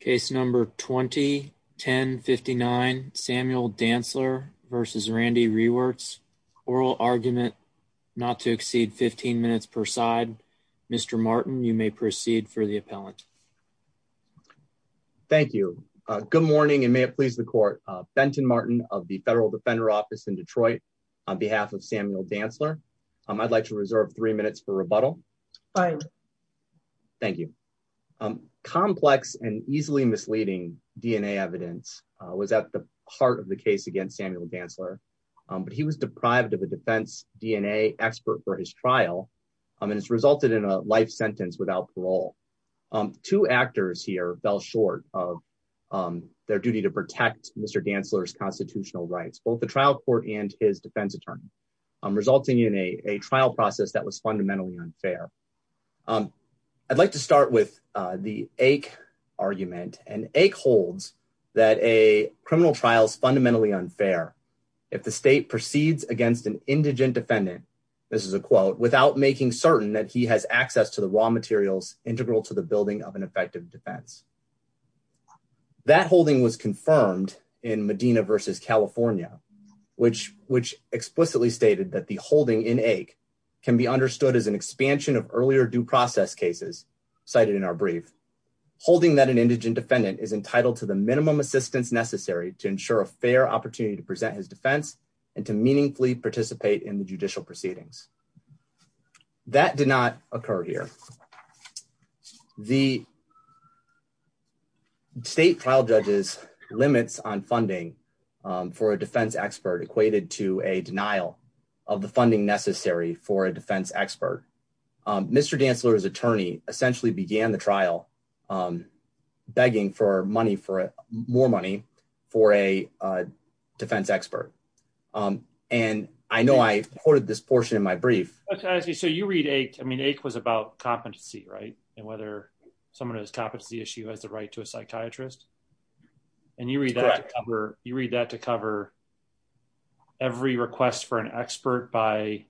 Case number 2010 59 Samuel Dantzler versus Randee Rewerts. Oral argument not to exceed 15 minutes per side. Mr. Martin, you may proceed for the appellant. Thank you. Good morning and may it please the court. Benton Martin of the Federal Defender Office in Detroit, on behalf of Samuel Dantzler. I'd like to reserve three minutes for rebuttal. Fine. Thank you. Complex and easily misleading DNA evidence was at the heart of the case against Samuel Dantzler. But he was deprived of a defense DNA expert for his trial and it's resulted in a life sentence without parole. Two actors here fell short of their duty to protect Mr. Dantzler's constitutional rights, both the trial court and his defense attorney, resulting in a trial process that was fundamentally unfair. I'd like to start with the ache argument and ache holds that a criminal trial is fundamentally unfair. If the state proceeds against an indigent defendant, this is a quote, without making certain that he has access to the raw materials integral to the building of an effective defense. That holding was confirmed in Medina versus California, which which explicitly stated that the holding in ache can be understood as an expansion of earlier due process cases cited in our brief holding that an indigent defendant is entitled to the minimum assistance necessary to ensure a fair opportunity to present his defense and to meaningfully participate in the judicial proceedings. That did not occur here. The. State trial judges limits on funding for a defense expert equated to a denial of the funding necessary for a defense expert. Mr. Dantzler's attorney essentially began the trial begging for money for more money for a defense expert. And I know I quoted this portion of my brief. So you read ache. I mean, ache was about competency, right? And whether someone who has competency issue has the right to a psychiatrist. And you read, you read that to cover every request for an expert by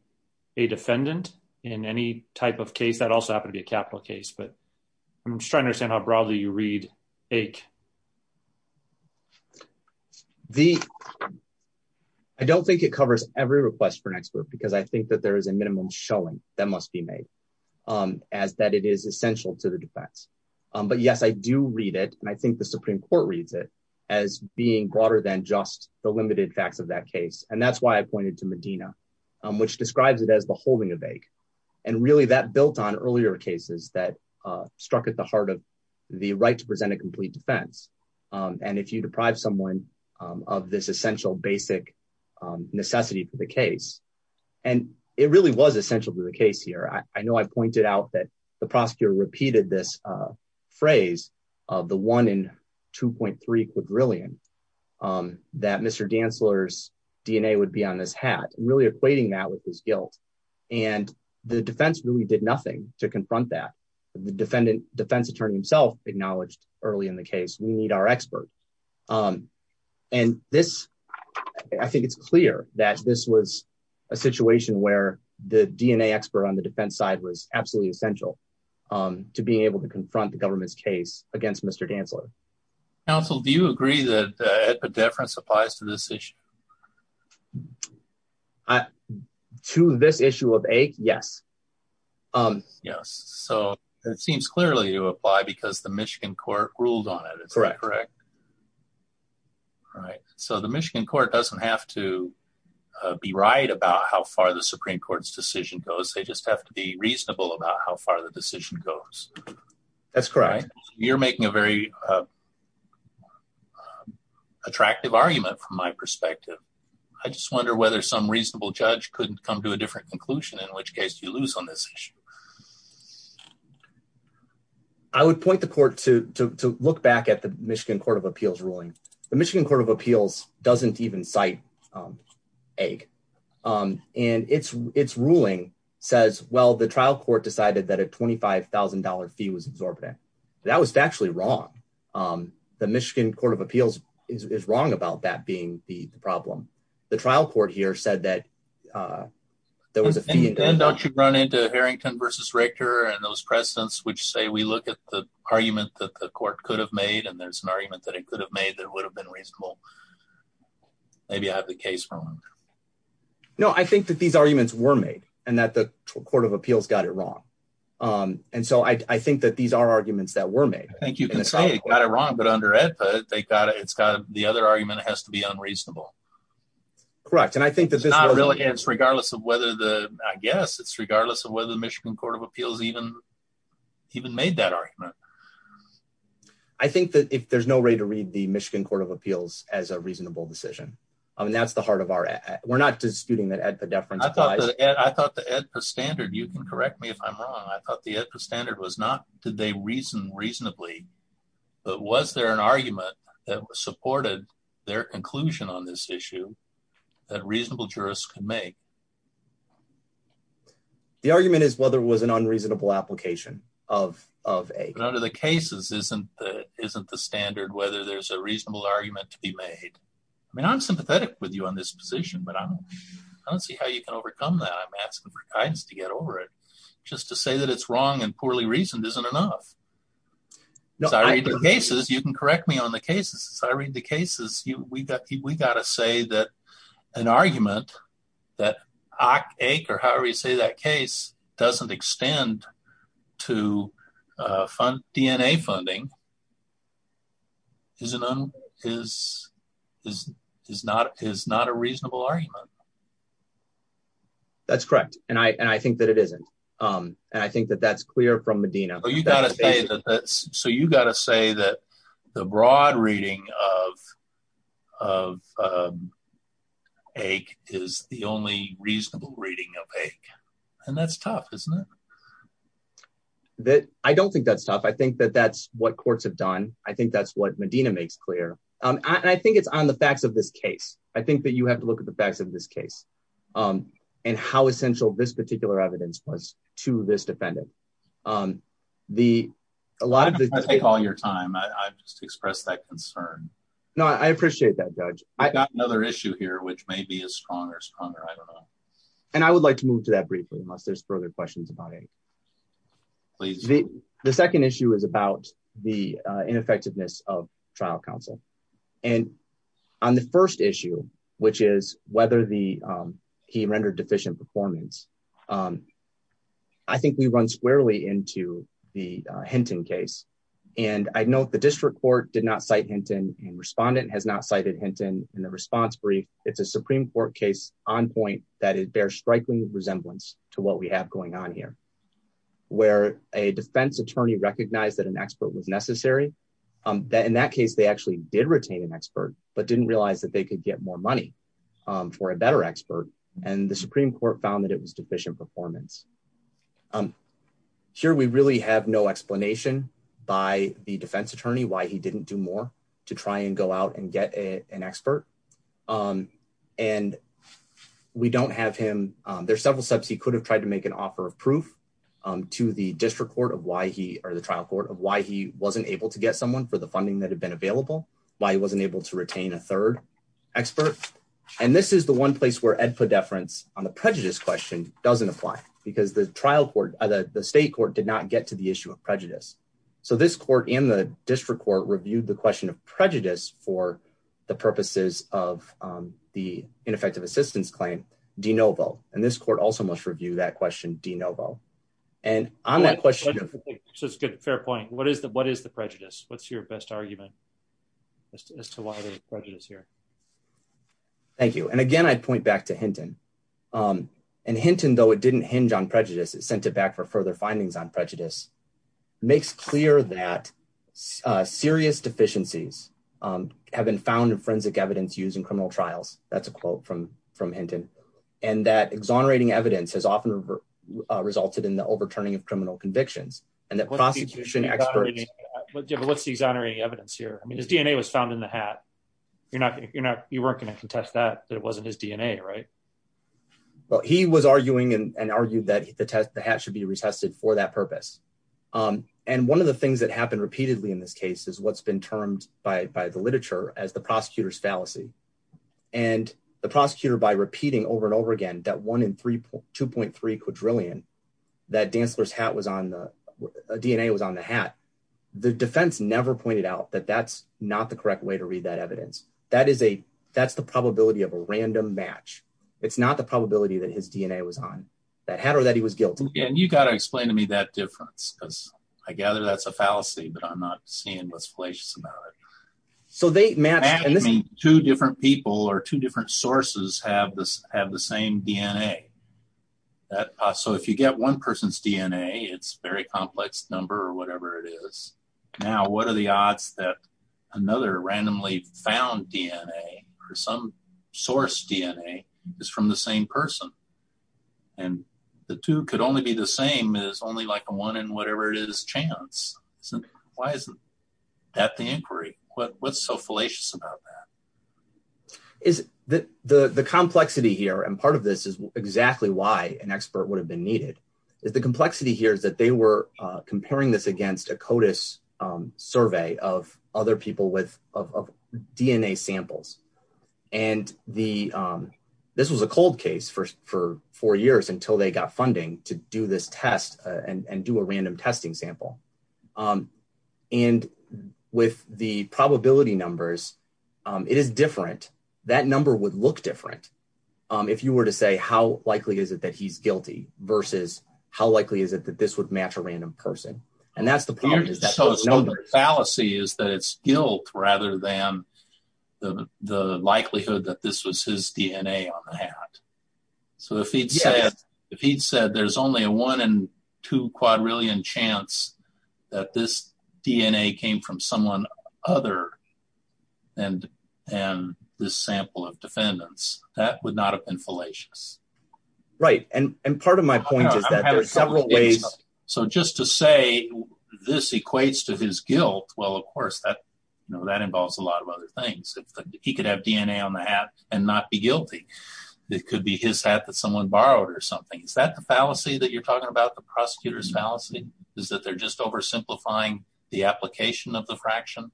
a defendant in any type of case that also happened to be a capital case, but I'm trying to understand how broadly you read ache. The. I don't think it covers every request for an expert because I think that there is a minimum showing that must be made as that it is essential to the defense. But yes, I do read it. And I think the Supreme Court reads it as being broader than just the limited facts of that case. And that's why I pointed to Medina, which describes it as the holding of ache. And really that built on earlier cases that struck at the heart of the right to present a complete defense. And if you deprive someone of this essential basic necessity for the case, and it really was essential to the case here. I know I pointed out that the prosecutor repeated this phrase of the one in two point three quadrillion that Mr. Dantzler's DNA would be on this hat, really equating that with his guilt. And the defense really did nothing to confront that. The defendant defense attorney himself acknowledged early in the case. We need our expert. And this, I think it's clear that this was a situation where the DNA expert on the defense side was absolutely essential to being able to confront the government's case against Mr. Dantzler. Also, do you agree that the difference applies to this issue. To this issue of ache. Yes. Yes. So it seems clearly to apply because the Michigan court ruled on it. Correct. Correct. Right. So the Michigan court doesn't have to be right about how far the Supreme Court's decision goes. They just have to be reasonable about how far the decision goes. That's correct. You're making a very Attractive argument from my perspective. I just wonder whether some reasonable judge couldn't come to a different conclusion in which case you lose on this issue. I would point the court to look back at the Michigan Court of Appeals ruling, the Michigan Court of Appeals doesn't even cite Egg. And it's it's ruling says, well, the trial court decided that a $25,000 fee was exorbitant. That was actually wrong. The Michigan Court of Appeals is wrong about that being the problem. The trial court here said that There was a fee and Don't you run into Harrington versus Richter and those presidents which say we look at the argument that the court could have made and there's an argument that it could have made that would have been reasonable. Maybe I have the case wrong. No, I think that these arguments were made and that the Court of Appeals got it wrong. And so I think that these are arguments that were made. Thank you. Got it wrong, but under it, but they got it. It's got the other argument has to be unreasonable. Correct. And I think that this is Not really. It's regardless of whether the I guess it's regardless of whether the Michigan Court of Appeals even even made that argument. I think that if there's no way to read the Michigan Court of Appeals as a reasonable decision. I mean, that's the heart of our we're not disputing that at the different I thought the standard. You can correct me if I'm wrong. I thought the standard was not today reason reasonably, but was there an argument that was supported their conclusion on this issue that reasonable jurists can make The argument is whether was an unreasonable application of of a None of the cases isn't isn't the standard whether there's a reasonable argument to be made. I mean, I'm sympathetic with you on this position, but I don't see how you can overcome that I'm asking for guidance to get over it just to say that it's wrong and poorly reasoned isn't enough. Cases. You can correct me on the cases. I read the cases you we got we got to say that an argument that I ache or however you say that case doesn't extend to fund DNA funding. Isn't is is is not is not a reasonable argument. That's correct. And I think that it isn't. And I think that that's clear from Medina. So you got to say that the broad reading of of A is the only reasonable reading of a and that's tough, isn't it. That I don't think that's tough. I think that that's what courts have done. I think that's what Medina makes clear and I think it's on the facts of this case. I think that you have to look at the facts of this case. And how essential this particular evidence was to this defendant on the a lot of the Take all your time. I just express that concern. No, I appreciate that. Judge I got another issue here, which may be a stronger, stronger. I don't know. And I would like to move to that briefly, unless there's further questions about it. The second issue is about the ineffectiveness of trial counsel and on the first issue, which is whether the he rendered deficient performance. I think we run squarely into the Hinton case and I know the district court did not cite Hinton and respondent has not cited Hinton in the response brief. It's a Supreme Court case on point that it bears striking resemblance to what we have going on here. Where a defense attorney recognize that an expert was necessary that in that case, they actually did retain an expert, but didn't realize that they could get more money for a better expert and the Supreme Court found that it was deficient performance. Here, we really have no explanation by the defense attorney why he didn't do more to try and go out and get an expert on and We don't have him. There's several steps. He could have tried to make an offer of proof to the district court of why he or the trial court of why he wasn't able to get someone for the funding that had been available, why he wasn't able to retain a third expert. And this is the one place where Ed for deference on the prejudice question doesn't apply because the trial court other the state court did not get to the issue of prejudice. So this court in the district court reviewed the question of prejudice for the purposes of the ineffective assistance claim de novo, and this court also must review that question de novo. And on that question. So it's good. Fair point. What is the, what is the prejudice. What's your best argument as to why the prejudice here. Thank you. And again, I'd point back to Hinton and Hinton, though it didn't hinge on prejudice is sent it back for further findings on prejudice makes clear that serious deficiencies have been found in forensic evidence using criminal trials. That's, that's a quote from from Hinton, and that exonerating evidence has often resulted in the overturning of criminal convictions, and that prosecution experts, what's the exonerating evidence here I mean his DNA was found in the hat. You're not, you're not, you weren't going to contest that it wasn't his DNA right. Well, he was arguing and argue that the test the hat should be retested for that purpose. And one of the things that happened repeatedly in this case is what's been termed by the literature as the prosecutors fallacy, and the prosecutor by repeating over and over again that one in three, 2.3 quadrillion that dancers hat was on the DNA was on the hat. The defense never pointed out that that's not the correct way to read that evidence, that is a, that's the probability of a random match. It's not the probability that his DNA was on that had or that he was guilty and you got to explain to me that difference because I gather that's a fallacy but I'm not seeing what's fallacious about it. So they met me two different people are two different sources have this have the same DNA. So if you get one person's DNA, it's very complex number or whatever it is. Now what are the odds that another randomly found DNA, or some source DNA is from the same person. And the two could only be the same is only like a one and whatever it is chance. So, why isn't that the inquiry, but what's so fallacious about that. Is that the the complexity here and part of this is exactly why an expert would have been needed is the complexity here is that they were comparing this against a CODIS survey of other people with DNA samples, and the. This was a cold case for for four years until they got funding to do this test and do a random testing sample. And with the probability numbers. It is different. That number would look different. If you were to say how likely is it that he's guilty versus how likely is it that this would match a random person. And that's the policy is that it's guilt, rather than the likelihood that this was his DNA on the hat. So if he'd said, if he'd said there's only a one and two quadrillion chance that this DNA came from someone other than, and this sample of defendants, that would not have been fallacious. Right. And, and part of my point is that there's several ways. So just to say, this equates to his guilt well of course that you know that involves a lot of other things. He could have DNA on the hat, and not be guilty. It could be his hat that someone borrowed or something. Is that the fallacy that you're talking about the prosecutors fallacy is that they're just oversimplifying the application of the fraction.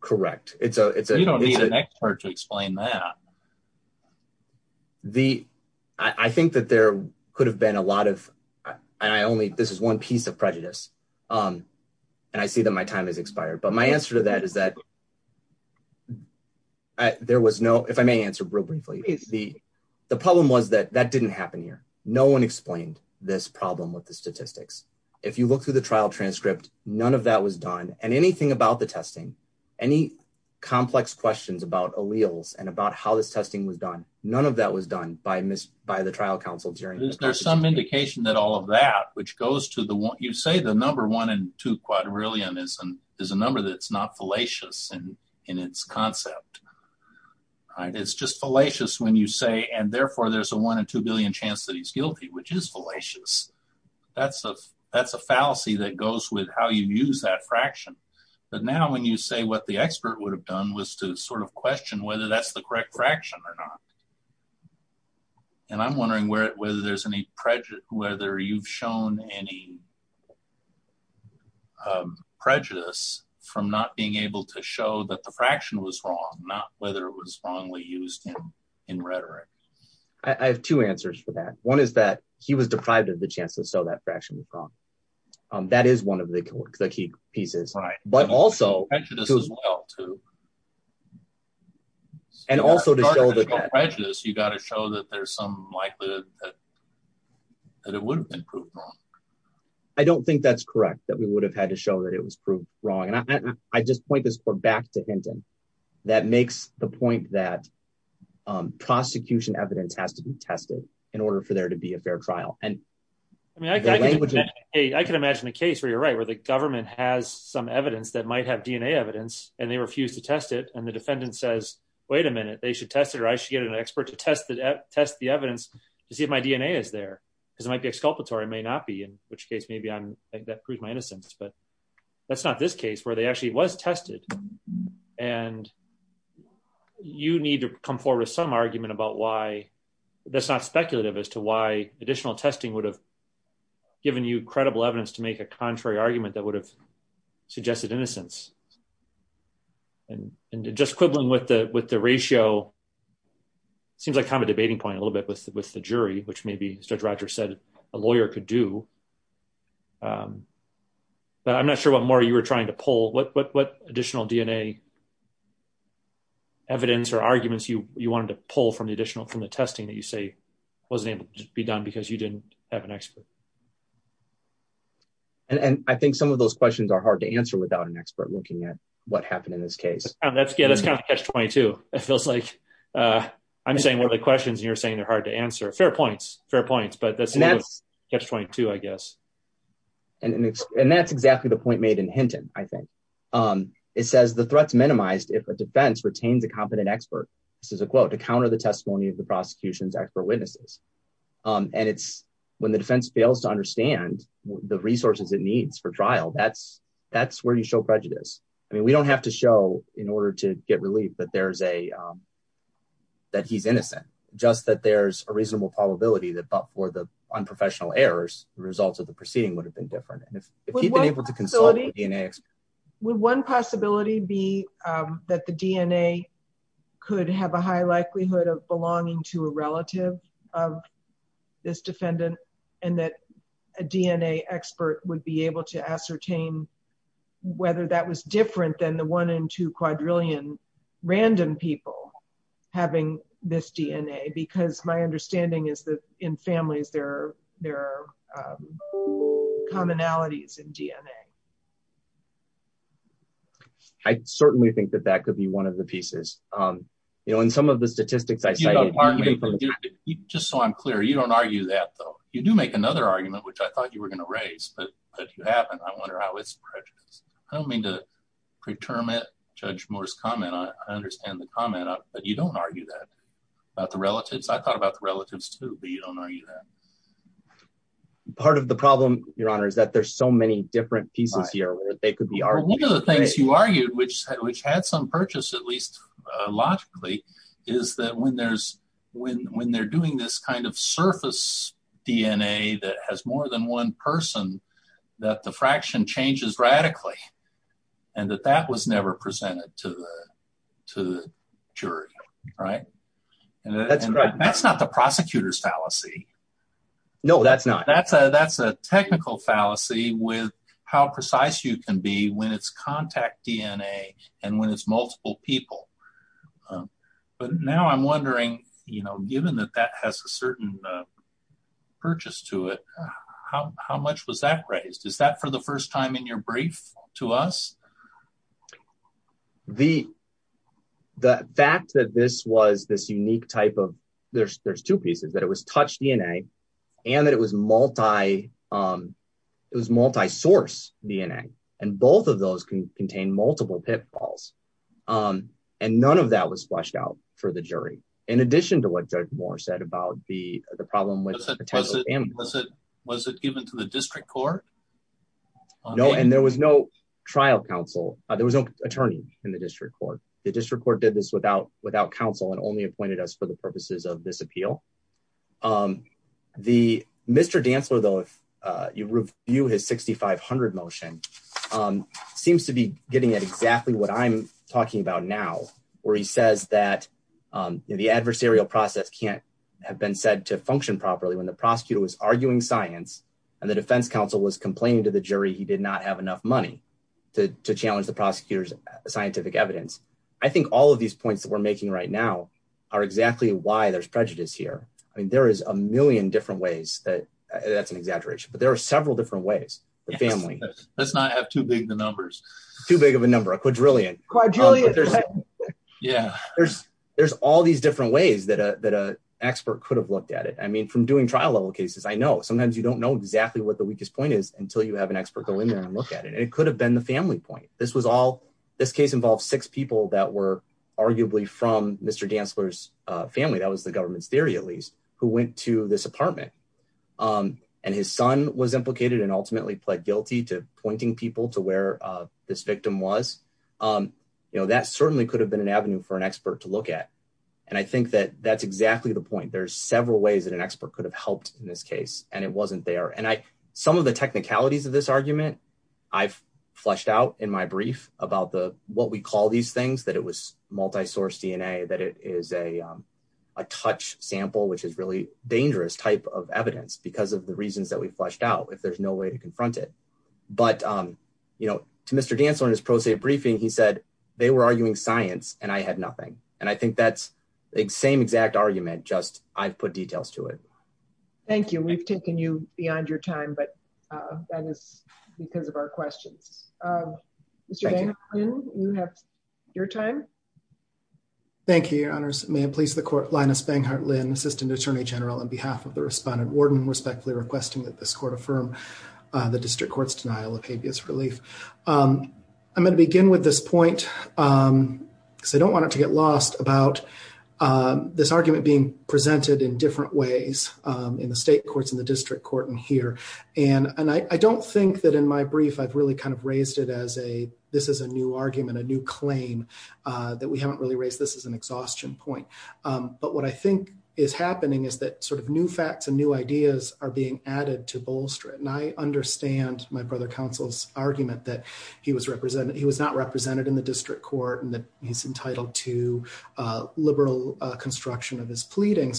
Correct, it's a it's an expert to explain that the. I think that there could have been a lot of. I only this is one piece of prejudice. And I see that my time has expired but my answer to that is that there was no if I may answer real briefly, the, the problem was that that didn't happen here. No one explained this problem with the statistics. If you look through the trial transcript, none of that was done, and anything about the testing any complex questions about alleles and about how this testing was done. None of that was done by Miss by the trial counsel during there's some indication that all of that which goes to the one you say the number one and two quadrillion is an is a number that's not fallacious and in its concept. It's just fallacious when you say and therefore there's a one and 2 billion chance that he's guilty which is fallacious. That's a, that's a fallacy that goes with how you use that fraction. But now when you say what the expert would have done was to sort of question whether that's the correct fraction or not. And I'm wondering where it whether there's any prejudice, whether you've shown any prejudice from not being able to show that the fraction was wrong, not whether it was wrongly used in in rhetoric. I have two answers for that one is that he was deprived of the chance to sell that fraction. That is one of the key pieces right but also to. And also to prejudice you got to show that there's some likelihood that it wouldn't improve. I don't think that's correct that we would have had to show that it was proved wrong and I just point this back to him. That makes the point that prosecution evidence has to be tested in order for there to be a fair trial, and I can imagine a case where you're right where the government has some evidence that might have DNA evidence, and they refuse to test it and the defendant says, wait a minute, they should test it or I should get an expert to test that test the evidence to see if my DNA is there, because it might be exculpatory may not be in which case maybe on that proved my innocence but that's not this case where they actually was tested. And you need to come forward with some argument about why that's not speculative as to why additional testing would have given you credible evidence to make a contrary argument that would have suggested innocence. And, and just quibbling with the with the ratio. Seems like kind of debating point a little bit with with the jury, which may be such Roger said, a lawyer could do. But I'm not sure what more you were trying to pull what what what additional DNA evidence or arguments you, you wanted to pull from the additional from the testing that you say, wasn't able to be done because you didn't have an expert. And I think some of those questions are hard to answer without an expert looking at what happened in this case, let's get us kind of catch 22, it feels like I'm saying one of the questions you're saying they're hard to answer fair points, fair points but that's that's 22 I guess. And, and that's exactly the point made in Hinton, I think, um, it says the threats minimized if a defense retains a competent expert. This is a quote to counter the testimony of the prosecution's expert witnesses. And it's when the defense fails to understand the resources it needs for trial that's that's where you show prejudice. I mean we don't have to show in order to get relief but there's a that he's innocent, just that there's a reasonable probability that but for the this defendant, and that a DNA expert would be able to ascertain whether that was different than the one in two quadrillion random people having this DNA because my understanding is that in families there. There are commonalities in DNA. I certainly think that that could be one of the pieces. You know, in some of the statistics. Just so I'm clear you don't argue that though you do make another argument which I thought you were going to raise but you haven't I wonder how it's prejudice. I don't mean to preterm it judge Morris comment I understand the comment, but you don't argue that about the relatives I thought about the relatives to be on are you that part of the problem, Your Honor is that there's so many different pieces here you argued which which had some purchase at least logically, is that when there's when when they're doing this kind of surface DNA that has more than one person that the fraction changes radically, and that that was never presented to the to the jury. Right. That's right. That's not the prosecutors fallacy. No, that's not that's a that's a technical fallacy with how precise you can be when it's contact DNA, and when it's multiple people. But now I'm wondering, you know, given that that has a certain purchase to it. How much was that raised is that for the first time in your brief to us. The, the fact that this was this unique type of there's there's two pieces that it was touched DNA, and that it was multi. It was multi source DNA, and both of those can contain multiple pitfalls. And none of that was flushed out for the jury. In addition to what judge Moore said about the problem with it. Was it given to the district court. No, and there was no trial counsel, there was no attorney in the district court, the district court did this without without counsel and only appointed us for the purposes of this appeal. The Mr. Dantzler though if you review his 6500 motion seems to be getting at exactly what I'm talking about now, where he says that the adversarial process can't have been said to function properly when the prosecutor was arguing science, and the I mean there is a million different ways that that's an exaggeration but there are several different ways, the family. Let's not have too big the numbers too big of a number a quadrillion quadrillion. Yeah, there's, there's all these different ways that a that a expert could have looked at it I mean from doing trial level cases I know sometimes you don't know exactly what the weakest point is until you have an expert go in there and look at it and it could have been the family point, this was all this case involves six people that were arguably from Mr Dantzler's family that was the government's theory at least, who went to this apartment, and his son was implicated and ultimately pled guilty to pointing people to where this victim was, um, you know that certainly could have been an avenue for an expert to look at. And I think that that's exactly the point there's several ways that an expert could have helped in this case, and it wasn't there and I some of the technicalities of this argument. I've fleshed out in my brief about the, what we call these things that it was multi source DNA that it is a touch sample which is really dangerous type of evidence because of the reasons that we fleshed out if there's no way to confront it. But, you know, to Mr Dantzler in his pro se briefing he said they were arguing science, and I had nothing. And I think that's the same exact argument just I've put details to it. Thank you. We've taken you beyond your time but that is because of our questions. You have your time. Thank you, Your Honors, may I please the court Linus Banghart Lynn Assistant Attorney General on behalf of the respondent warden respectfully requesting that this court affirm the district courts denial of habeas relief. I'm going to begin with this point. So I don't want it to get lost about this argument being presented in different ways in the state courts in the district court and here, and I don't think that in my brief I've really kind of raised it as a. This is a new argument a new claim that we haven't really raised this as an exhaustion point. But what I think is happening is that sort of new facts and new ideas are being added to bolster it and I understand my brother counsel's argument that he was represented he was not represented in the district court and that he's entitled to liberal construction of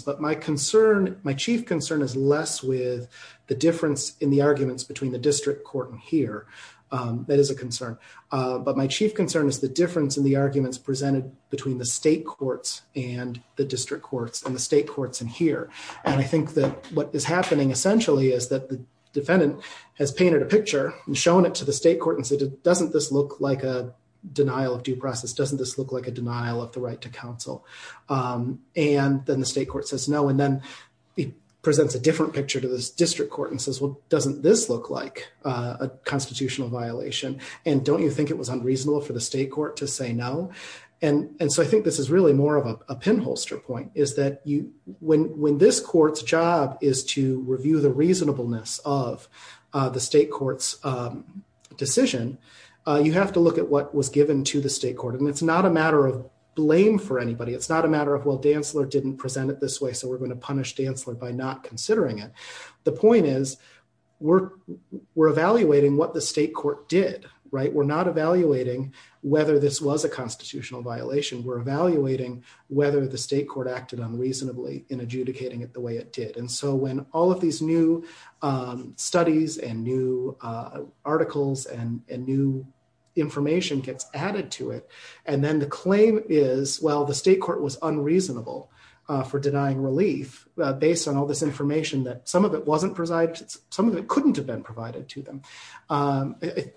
But my concern, my chief concern is less with the difference in the arguments between the district court and here. That is a concern, but my chief concern is the difference in the arguments presented between the state courts and the district courts and the state courts in here. And I think that what is happening essentially is that the defendant has painted a picture and shown it to the state court and said, doesn't this look like a denial of due process doesn't this look like a denial of the right to counsel. And then the state court says no. And then he presents a different picture to this district court and says, well, doesn't this look like a constitutional violation. And don't you think it was unreasonable for the state court to say no. And so I think this is really more of a pinholster point is that you when when this court's job is to review the reasonableness of the state court's decision. You have to look at what was given to the state court. And it's not a matter of blame for anybody. It's not a matter of well Dantzler didn't present it this way. So we're going to punish Dantzler by not considering it. The point is, we're, we're evaluating what the state court did right we're not evaluating whether this was a constitutional violation we're evaluating whether the state court acted unreasonably in adjudicating it the way it did. And so when all of these new studies and new articles and new information gets added to it. And then the claim is well the state court was unreasonable for denying relief, based on all this information that some of it wasn't presided some of it couldn't have been provided to them. I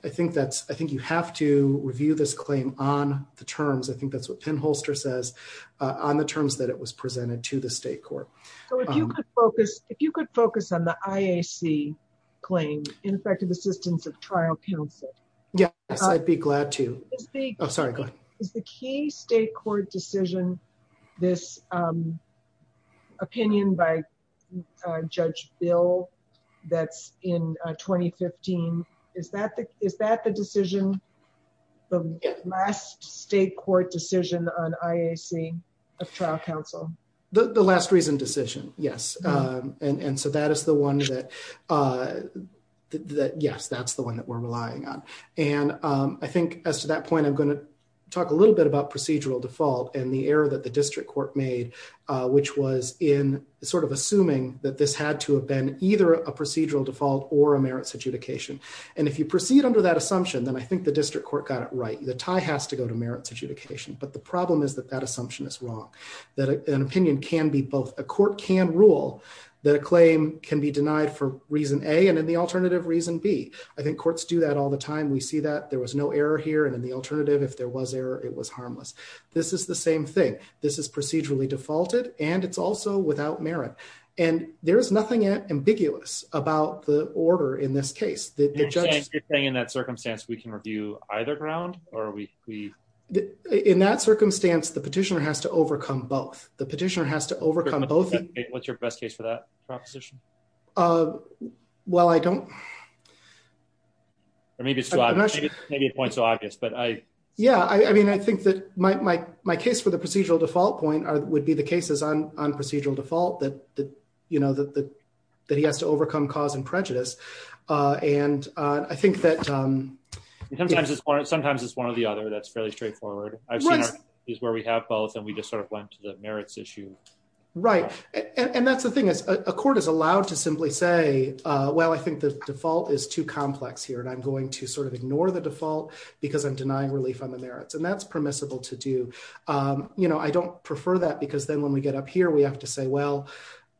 think that's, I think you have to review this claim on the terms I think that's what pinholster says on the terms that it was presented to the state court. So if you could focus, if you could focus on the IAC claim ineffective assistance of trial counsel. Yes, I'd be glad to speak. I'm sorry. Is the key state court decision. This opinion by Judge bill that's in 2015. Is that the, is that the decision. Last state court decision on IAC of trial counsel. The last reason decision. Yes. And so that is the one that that yes that's the one that we're relying on. And I think as to that point I'm going to talk a little bit about procedural default and the error that the district court made, which was in sort of assuming that this had to have been either a procedural default or a merits adjudication. And if you proceed under that assumption then I think the district court got it right, the tie has to go to merits adjudication but the problem is that that assumption is wrong. That an opinion can be both a court can rule that a claim can be denied for reason a and then the alternative reason be, I think courts do that all the time we see that there was no error here and then the alternative if there was error, it was harmless. This is the same thing. This is procedurally defaulted, and it's also without merit, and there's nothing ambiguous about the order in this case that just saying in that circumstance we can review, either ground, or we, we, in that circumstance the petitioner has to overcome both the petitioner has to overcome both. What's your best case for that proposition. Well, I don't. Maybe maybe a point so obvious but I. Yeah, I mean I think that my, my, my case for the procedural default point or would be the cases on on procedural default that you know that that he has to overcome cause and prejudice. And I think that sometimes it's sometimes it's one or the other that's fairly straightforward. I've seen is where we have both and we just sort of went to the merits issue. Right. And that's the thing is a court is allowed to simply say, Well, I think the default is too complex here and I'm going to sort of ignore the default, because I'm denying relief on the merits and that's permissible to do. You know, I don't prefer that because then when we get up here we have to say, Well,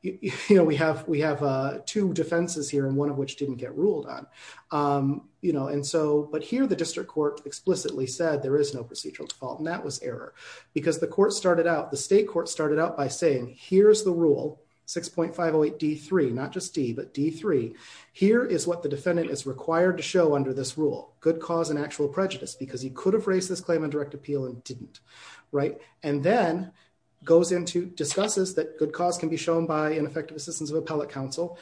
you know, we have, we have two defenses here and one of which didn't get ruled on, you know, and so, but here the district court explicitly said there is no procedural default and that was error, because the court started out the state court started out by saying, Here's the rule 6.508 D three not just D but D three. Here is what the defendant is required to show under this rule, good cause and actual prejudice because he could have raised this claim on direct appeal and didn't. Right. And then goes into discusses that good cause can be shown by ineffective assistance of appellate counsel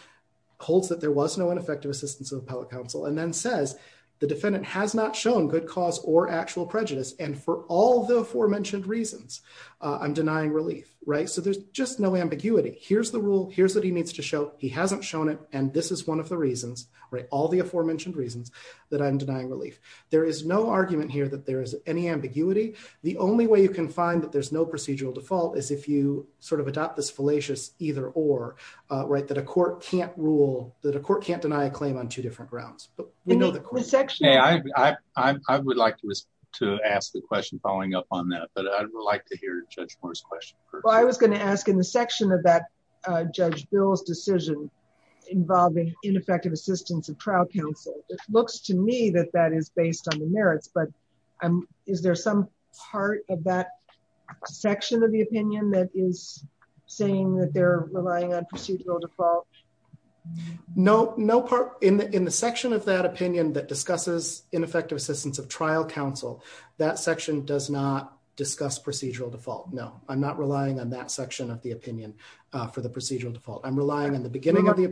holds that there was no ineffective assistance of appellate counsel and then says the defendant has not shown good cause or actual prejudice and for all the aforementioned reasons, I'm denying relief. Right, so there's just no ambiguity. Here's the rule, here's what he needs to show he hasn't shown it, and this is one of the reasons, right, all the aforementioned reasons that I'm denying relief. There is no argument here that there is any ambiguity. The only way you can find that there's no procedural default is if you sort of adopt this fallacious either or right that a court can't rule that a court can't deny a claim on two different grounds. I would like to ask the question following up on that but I'd like to hear Judge Moore's question. I was going to ask in the section of that judge bills decision involving ineffective assistance of trial counsel looks to me that that is based on the merits but I'm, is there some part of that section of the opinion that is saying that they're relying on procedural default. No, no part in the in the section of that opinion that discusses ineffective assistance of trial counsel that section does not discuss procedural default. No, I'm not relying on that section of the opinion for the procedural default I'm relying on the beginning of the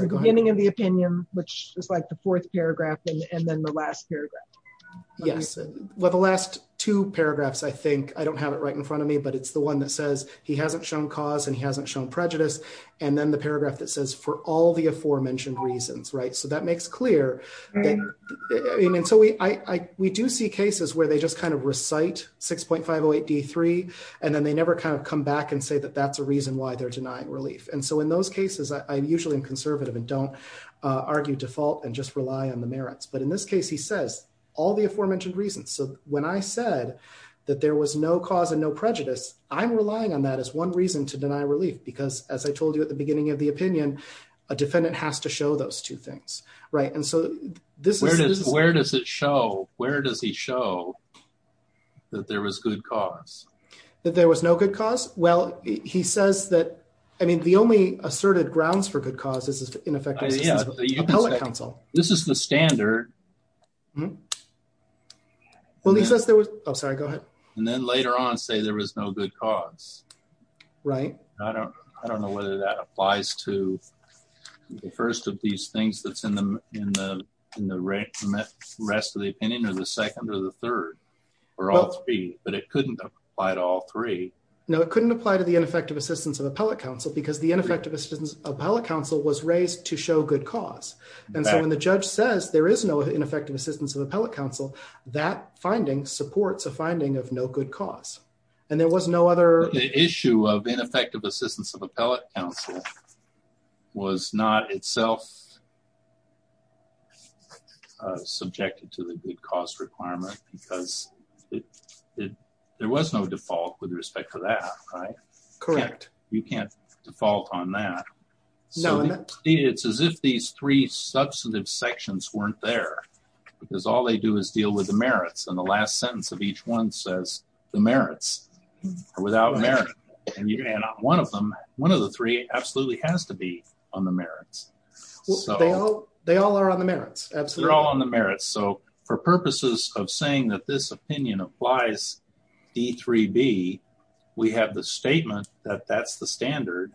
beginning of the opinion, which is like the fourth paragraph, and then the last paragraph. Yes, well the last two paragraphs I think I don't have it right in front of me but it's the one that says he hasn't shown cause and he hasn't shown prejudice, and then the paragraph that says for all the aforementioned reasons right so that makes clear. And so we, I, we do see cases where they just kind of recite 6.508 d three, and then they never kind of come back and say that that's a reason why they're denying relief and so in those cases I usually I'm conservative and don't argue default and just rely on the merits but in this case he says, all the aforementioned reasons so when I said that there was no cause and no prejudice, I'm relying on that as one reason to deny relief because, as I told you at the beginning of the opinion, a defendant has to show those two things. Right. And so, this is where does it show, where does he show that there was good cause that there was no good cause, well, he says that, I mean the only asserted grounds for good causes is ineffective. Council, this is the standard. Well he says there was, I'm sorry, go ahead. And then later on say there was no good cause. Right. I don't, I don't know whether that applies to the first of these things that's in the, in the, in the rest of the opinion or the second or the third, or all three, but it couldn't apply to all three. No, it couldn't apply to the ineffective assistance of appellate counsel because the ineffective assistance appellate counsel was raised to show good cause. And so when the judge says there is no ineffective assistance of appellate counsel that finding supports a finding of no good cause. And there was no other issue of ineffective assistance of appellate counsel was not itself subjected to the good cause requirement, because there was no default with respect to that. Correct. You can't default on that. It's as if these three substantive sections weren't there, because all they do is deal with the merits and the last sentence of each one says the merits are without merit, and you cannot one of them. One of the three absolutely has to be on the merits. They all are on the merits. Absolutely. They're all on the merits. So, for purposes of saying that this opinion applies D3B, we have the statement that that's the standard.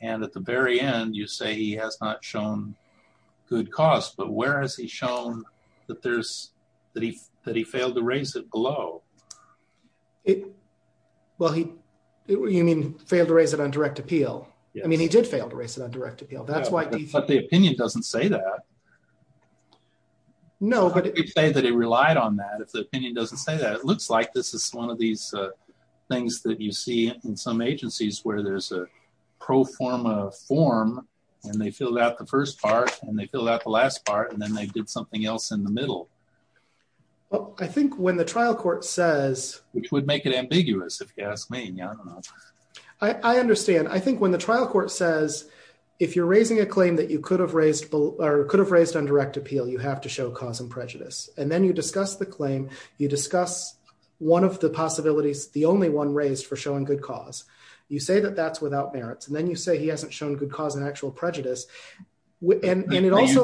And at the very end, you say he has not shown good cause, but where has he shown that there's, that he, that he failed to raise it below. Well, he, you mean, failed to raise it on direct appeal. I mean, he did fail to raise it on direct appeal. That's why. But the opinion doesn't say that. No, but. You could say that he relied on that if the opinion doesn't say that. It looks like this is one of these things that you see in some agencies where there's a pro forma form, and they filled out the first part, and they filled out the last part, and then they did something else in the middle. I think when the trial court says. Which would make it ambiguous if you ask me. I understand. I think when the trial court says, if you're raising a claim that you could have raised, or could have raised on direct appeal, you have to show cause and prejudice, and then you discuss the claim, you discuss one of the possibilities, the only one raised for showing good cause. You say that that's without merits and then you say he hasn't shown good cause and actual prejudice. You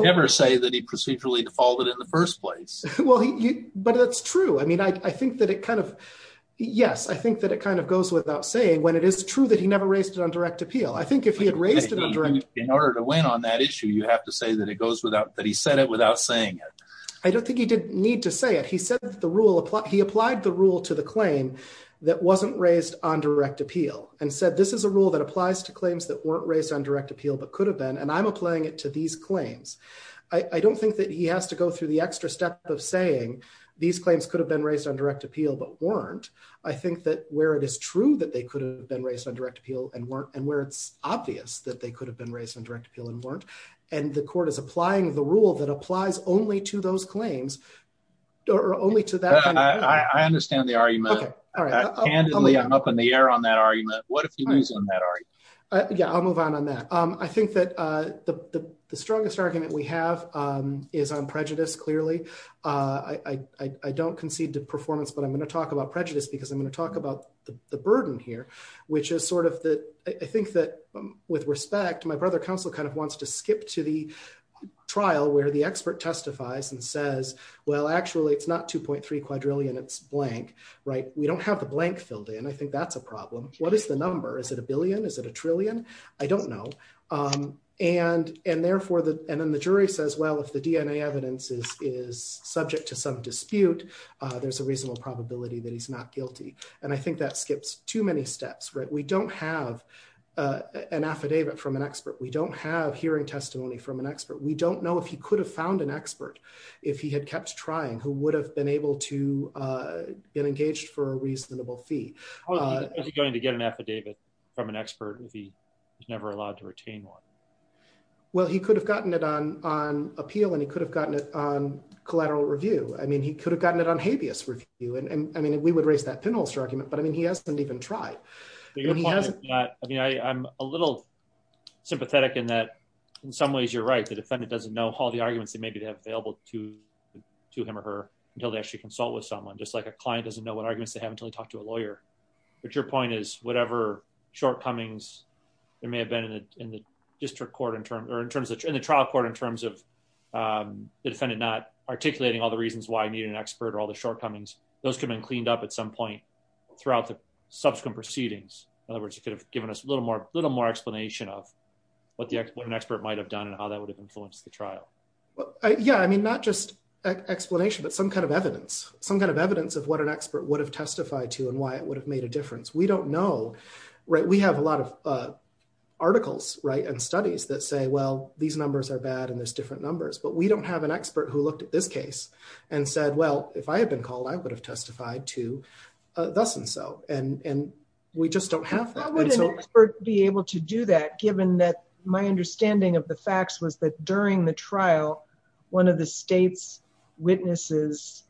never say that he procedurally defaulted in the first place. Well, but that's true. I mean, I think that it kind of, yes, I think that it kind of goes without saying when it is true that he never raised it on direct appeal. I think if he had raised it on direct appeal. In order to win on that issue, you have to say that it goes without, that he said it without saying it. I don't think he didn't need to say it. He said that the rule, he applied the rule to the claim that wasn't raised on direct appeal and said this is a rule that applies to claims that weren't raised on direct appeal but could have been. And I'm applying it to these claims. I don't think that he has to go through the extra step of saying these claims could have been raised on direct appeal but weren't. I think that where it is true that they could have been raised on direct appeal and weren't and where it's obvious that they could have been raised on direct appeal and weren't. And the court is applying the rule that applies only to those claims, or only to that. I understand the argument. I'm up in the air on that argument. What if you lose on that argument? Yeah, I'll move on on that. I think that the strongest argument we have is on prejudice clearly. I don't concede to performance but I'm going to talk about prejudice because I'm going to talk about the burden here, which is sort of the, I think that, with respect, my brother counsel kind of wants to skip to the trial where the expert testifies and says, well actually it's not 2.3 quadrillion it's blank, right, we don't have the blank filled in I think that's a problem. What is the number is it a billion is it a trillion. I don't know. And, and therefore the, and then the jury says well if the DNA evidence is is subject to some dispute. There's a reasonable probability that he's not guilty. And I think that skips too many steps right we don't have an affidavit from an expert we don't have hearing testimony from an expert we don't know if he could have found an expert. If he had kept trying, who would have been able to get engaged for a reasonable fee going to get an affidavit from an expert if he never allowed to retain one. Well, he could have gotten it on on appeal and he could have gotten it on collateral review, I mean he could have gotten it on habeas review and I mean we would raise that pinholes argument but I mean he hasn't even tried. I mean I'm a little sympathetic in that, in some ways you're right the defendant doesn't know how the arguments that maybe they have available to to him or her until they actually consult with someone just like a client doesn't know what arguments they haven't really talked to a lawyer. But your point is, whatever shortcomings. There may have been in the district court in terms or in terms of the trial court in terms of the defendant not articulating all the reasons why I need an expert or all the shortcomings, those can be cleaned up at some point throughout the subsequent proceedings. In other words, it could have given us a little more little more explanation of what the expert might have done and how that would have influenced the trial. Yeah, I mean not just explanation but some kind of evidence, some kind of evidence of what an expert would have testified to and why it would have made a difference we don't know. Right, we have a lot of articles right and studies that say well these numbers are bad and there's different numbers but we don't have an expert who looked at this case and said well if I had been called I would have testified to. And we just don't have that would be able to do that given that my understanding of the facts was that during the trial. One of the state's witnesses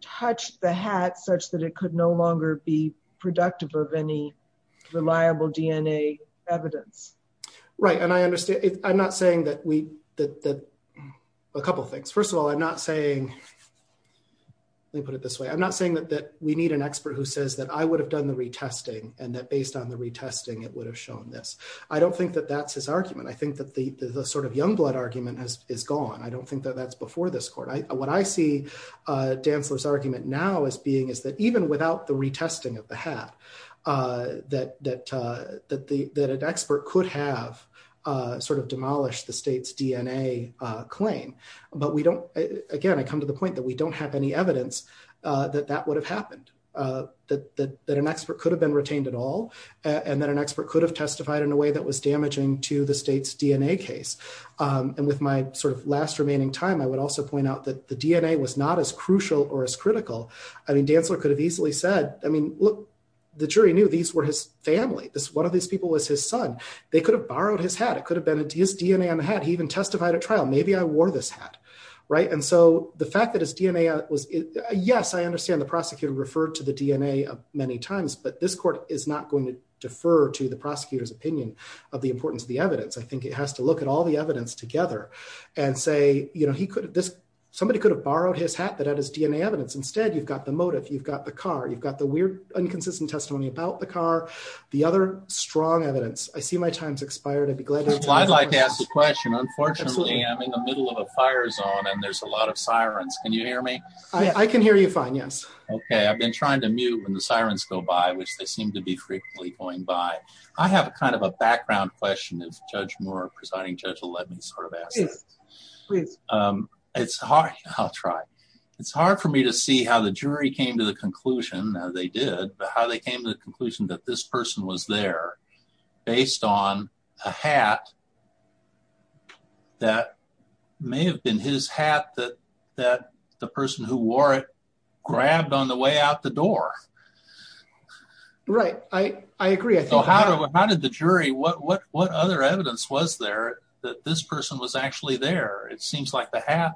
touched the hat such that it could no longer be productive of any reliable DNA evidence. Right, and I understand, I'm not saying that we did a couple things. First of all, I'm not saying they put it this way I'm not saying that that we need an expert who says that I would have done the retesting and that based on the retesting it would have shown this. I don't think that that's his argument I think that the sort of young blood argument has is gone I don't think that that's before this court I what I see dancers argument now is being is that even without the retesting of the hat. That that that the that an expert could have sort of demolished the state's DNA claim, but we don't. Again, I come to the point that we don't have any evidence that that would have happened. That that that an expert could have been retained at all. And then an expert could have testified in a way that was damaging to the state's DNA case. And with my sort of last remaining time I would also point out that the DNA was not as crucial or as critical. I mean dancer could have easily said, I mean, look, the jury knew these were his family this one of these people was his son, they could have borrowed his hat, it could have been his DNA on the head he even testified at trial, maybe I wore this hat. Right. And so the fact that his DNA was, yes, I understand the prosecutor referred to the DNA of many times but this court is not going to defer to the And say, you know, he could have this somebody could have borrowed his hat that had his DNA evidence. Instead, you've got the motive, you've got the car, you've got the weird inconsistent testimony about the car. The other strong evidence. I see my time's expired. I'd be glad to I'd like to ask a question. Unfortunately, I'm in the middle of a fire zone and there's a lot of sirens. Can you hear me. I can hear you fine. Yes. Okay. I've been trying to mute when the sirens go by, which they seem to be frequently going by. I have kind of a background question is judge more presiding judge will let me sort of ask, please. It's hard. I'll try. It's hard for me to see how the jury came to the conclusion that they did how they came to the conclusion that this person was there, based on a hat. That may have been his hat that that the person who wore it grabbed on the way out the door. Right. I, I agree. I think how did the jury what what what other evidence was there that this person was actually there. It seems like the half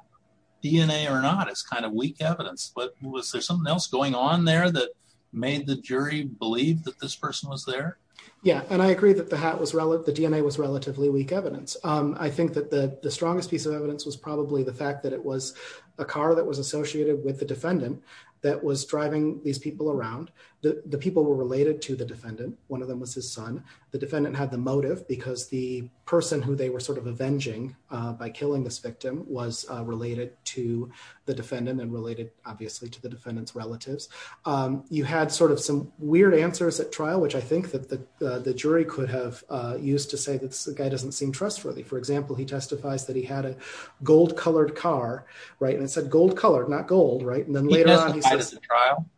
DNA or not, it's kind of weak evidence, but was there something else going on there that made the jury believe that this person was there. Yeah, and I agree that the hat was relative the DNA was relatively weak evidence. I think that the strongest piece of evidence was probably the fact that it was a car that was associated with the defendant that was driving these people around. The people were related to the defendant. One of them was his son. The defendant had the motive because the person who they were sort of avenging by killing this victim was related to the defendant and related, obviously, to the defendant's relatives. You had sort of some weird answers at trial, which I think that the jury could have used to say that's the guy doesn't seem trustworthy. For example, he testifies that he had a gold colored car. Right. And it said gold colored not gold. Right. And then later on, he says, trial.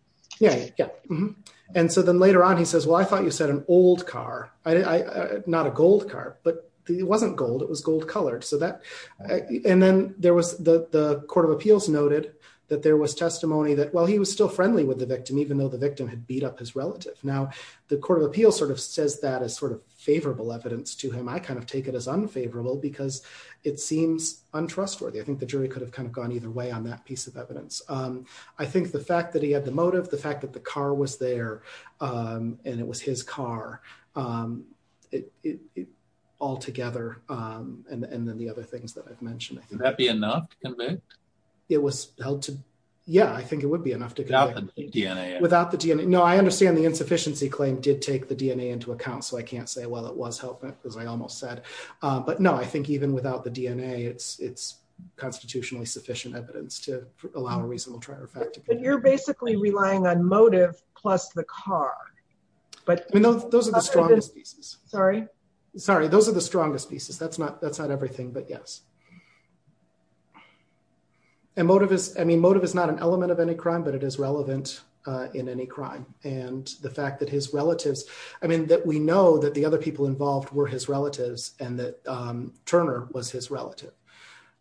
And so then later on, he says, well, I thought you said an old car. I not a gold car, but it wasn't gold. It was gold colored so that and then there was the Court of Appeals noted that there was testimony that while he was still friendly with the victim, even though the victim had beat up his relative. Now, the Court of Appeals sort of says that as sort of favorable evidence to him. I kind of take it as unfavorable because it seems untrustworthy. I think the jury could have kind of gone either way on that piece of evidence. I think the fact that he had the motive, the fact that the car was there, and it was his car. All together, and then the other things that I've mentioned. Would that be enough to convict? It was held to. Yeah, I think it would be enough to convict. Without the DNA. Without the DNA. No, I understand the insufficiency claim did take the DNA into account. So I can't say, well, it was helpful, as I almost said. But no, I think even without the DNA, it's constitutionally sufficient evidence to allow a reasonable trial. But you're basically relying on motive plus the car. Those are the strongest pieces. Sorry? Sorry, those are the strongest pieces. That's not everything, but yes. And motive is, I mean, motive is not an element of any crime, but it is relevant in any crime. And the fact that his relatives, I mean, that we know that the other people involved were his relatives and that Turner was his relative.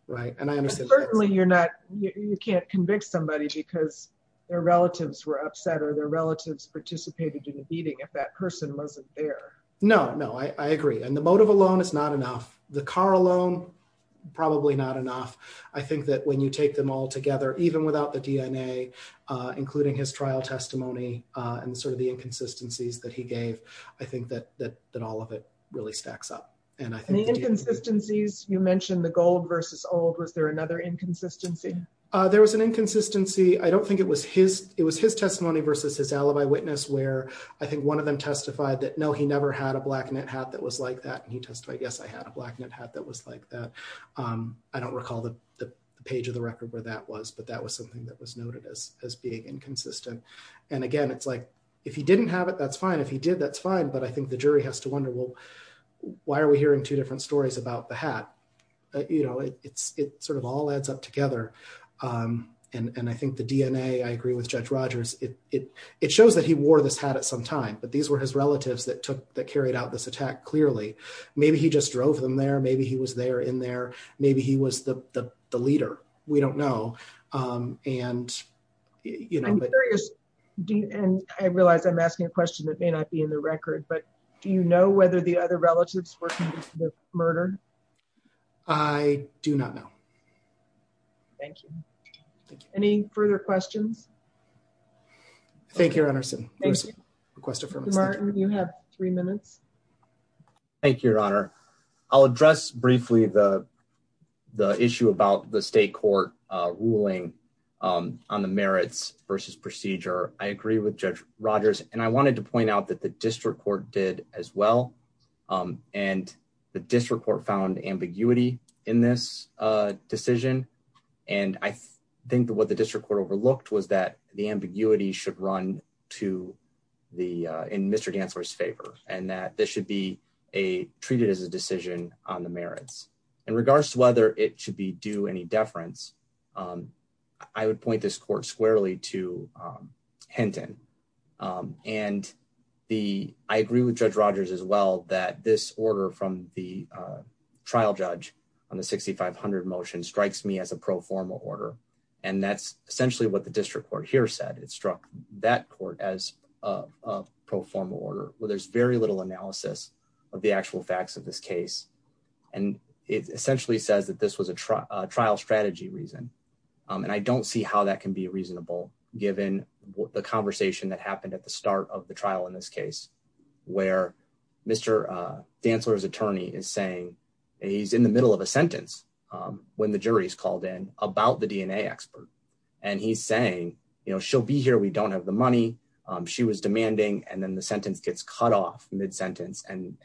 And certainly you're not, you can't convict somebody because their relatives were upset or their relatives participated in a beating if that person wasn't there. No, no, I agree. And the motive alone is not enough. The car alone, probably not enough. I think that when you take them all together, even without the DNA, including his trial testimony, and sort of the inconsistencies that he gave, I think that all of it really stacks up. And the inconsistencies, you mentioned the gold versus old. Was there another inconsistency? There was an inconsistency. I don't think it was his testimony versus his alibi witness where I think one of them testified that, no, he never had a black knit hat that was like that. And he testified, yes, I had a black knit hat that was like that. I don't recall the page of the record where that was, but that was something that was noted as being inconsistent. And again, it's like, if he didn't have it, that's fine. If he did, that's fine. But I think the jury has to wonder, well, why are we hearing two different stories about the hat? It sort of all adds up together. And I think the DNA, I agree with Judge Rogers, it shows that he wore this hat at some time, but these were his relatives that carried out this attack clearly. Maybe he just drove them there. Maybe he was there in there. Maybe he was the leader. We don't know. I'm curious, and I realize I'm asking a question that may not be in the record, but do you know whether the other relatives were connected to the murder? I do not know. Thank you. Any further questions? Thank you, Your Honor. Martin, you have three minutes. Thank you, Your Honor. I'll address briefly the issue about the state court ruling on the merits versus procedure. I agree with Judge Rogers and I wanted to point out that the district court did as well. And the district court found ambiguity in this decision. And I think that what the district court overlooked was that the ambiguity should run in Mr. Gantzler's favor and that this should be treated as a decision on the merits. In regards to whether it should be due any deference, I would point this court squarely to Hinton. And I agree with Judge Rogers as well that this order from the trial judge on the 6500 motion strikes me as a pro forma order. And that's essentially what the district court here said. It struck that court as a pro forma order where there's very little analysis of the actual facts of this case. And it essentially says that this was a trial strategy reason. And I don't see how that can be reasonable, given the conversation that happened at the start of the trial in this case, where Mr. Gantzler's attorney is saying he's in the middle of a sentence when the jury is called in about the DNA expert. And he's saying, you know, she'll be here. We don't have the money. She was demanding and then the sentence gets cut off mid sentence and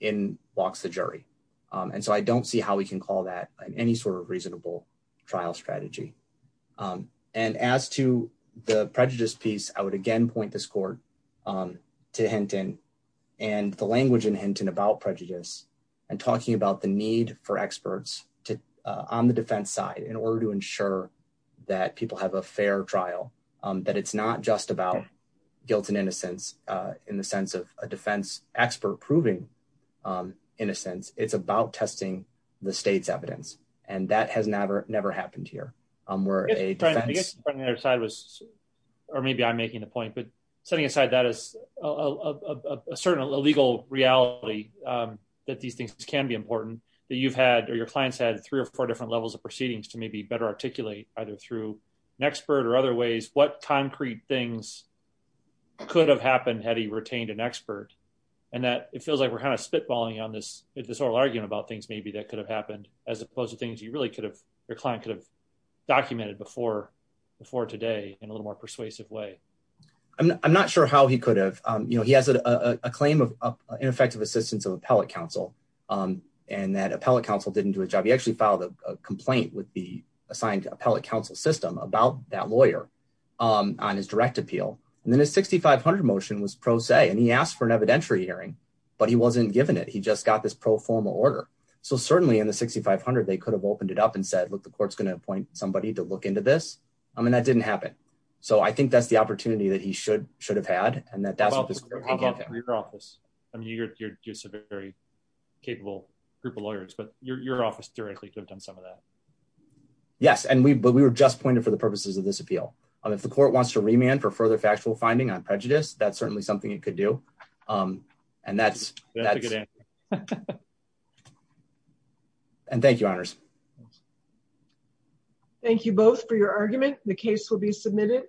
in walks the jury. And so I don't see how we can call that any sort of reasonable trial strategy. And as to the prejudice piece, I would again point this court to Hinton and the language in Hinton about prejudice and talking about the need for experts on the defense side in order to ensure that people have a fair trial. That it's not just about guilt and innocence in the sense of a defense expert proving innocence. It's about testing the state's evidence. And that has never, never happened here. I guess the other side was, or maybe I'm making the point, but setting aside that as a certain illegal reality that these things can be important that you've had or your clients had three or four different levels of proceedings to maybe better articulate either through an expert or other ways, what concrete things could have happened had he retained an expert. And that it feels like we're kind of spitballing on this, this whole argument about things maybe that could have happened as opposed to things you really could have, your client could have documented before today in a little more persuasive way. I'm not sure how he could have, you know, he has a claim of ineffective assistance of appellate counsel and that appellate counsel didn't do a job. He actually filed a complaint with the assigned appellate counsel system about that lawyer on his direct appeal. And then his 6500 motion was pro se and he asked for an evidentiary hearing, but he wasn't given it. He just got this pro forma order. So certainly in the 6500 they could have opened it up and said, look, the court's going to appoint somebody to look into this. I mean, that didn't happen. So I think that's the opportunity that he should should have had, and that that's your office. I mean, you're just a very capable group of lawyers, but your office directly could have done some of that. Yes, and we but we were just pointed for the purposes of this appeal on if the court wants to remand for further factual finding on prejudice, that's certainly something you could do. And that's. And thank you honors. Thank you both for your argument, the case will be submitted.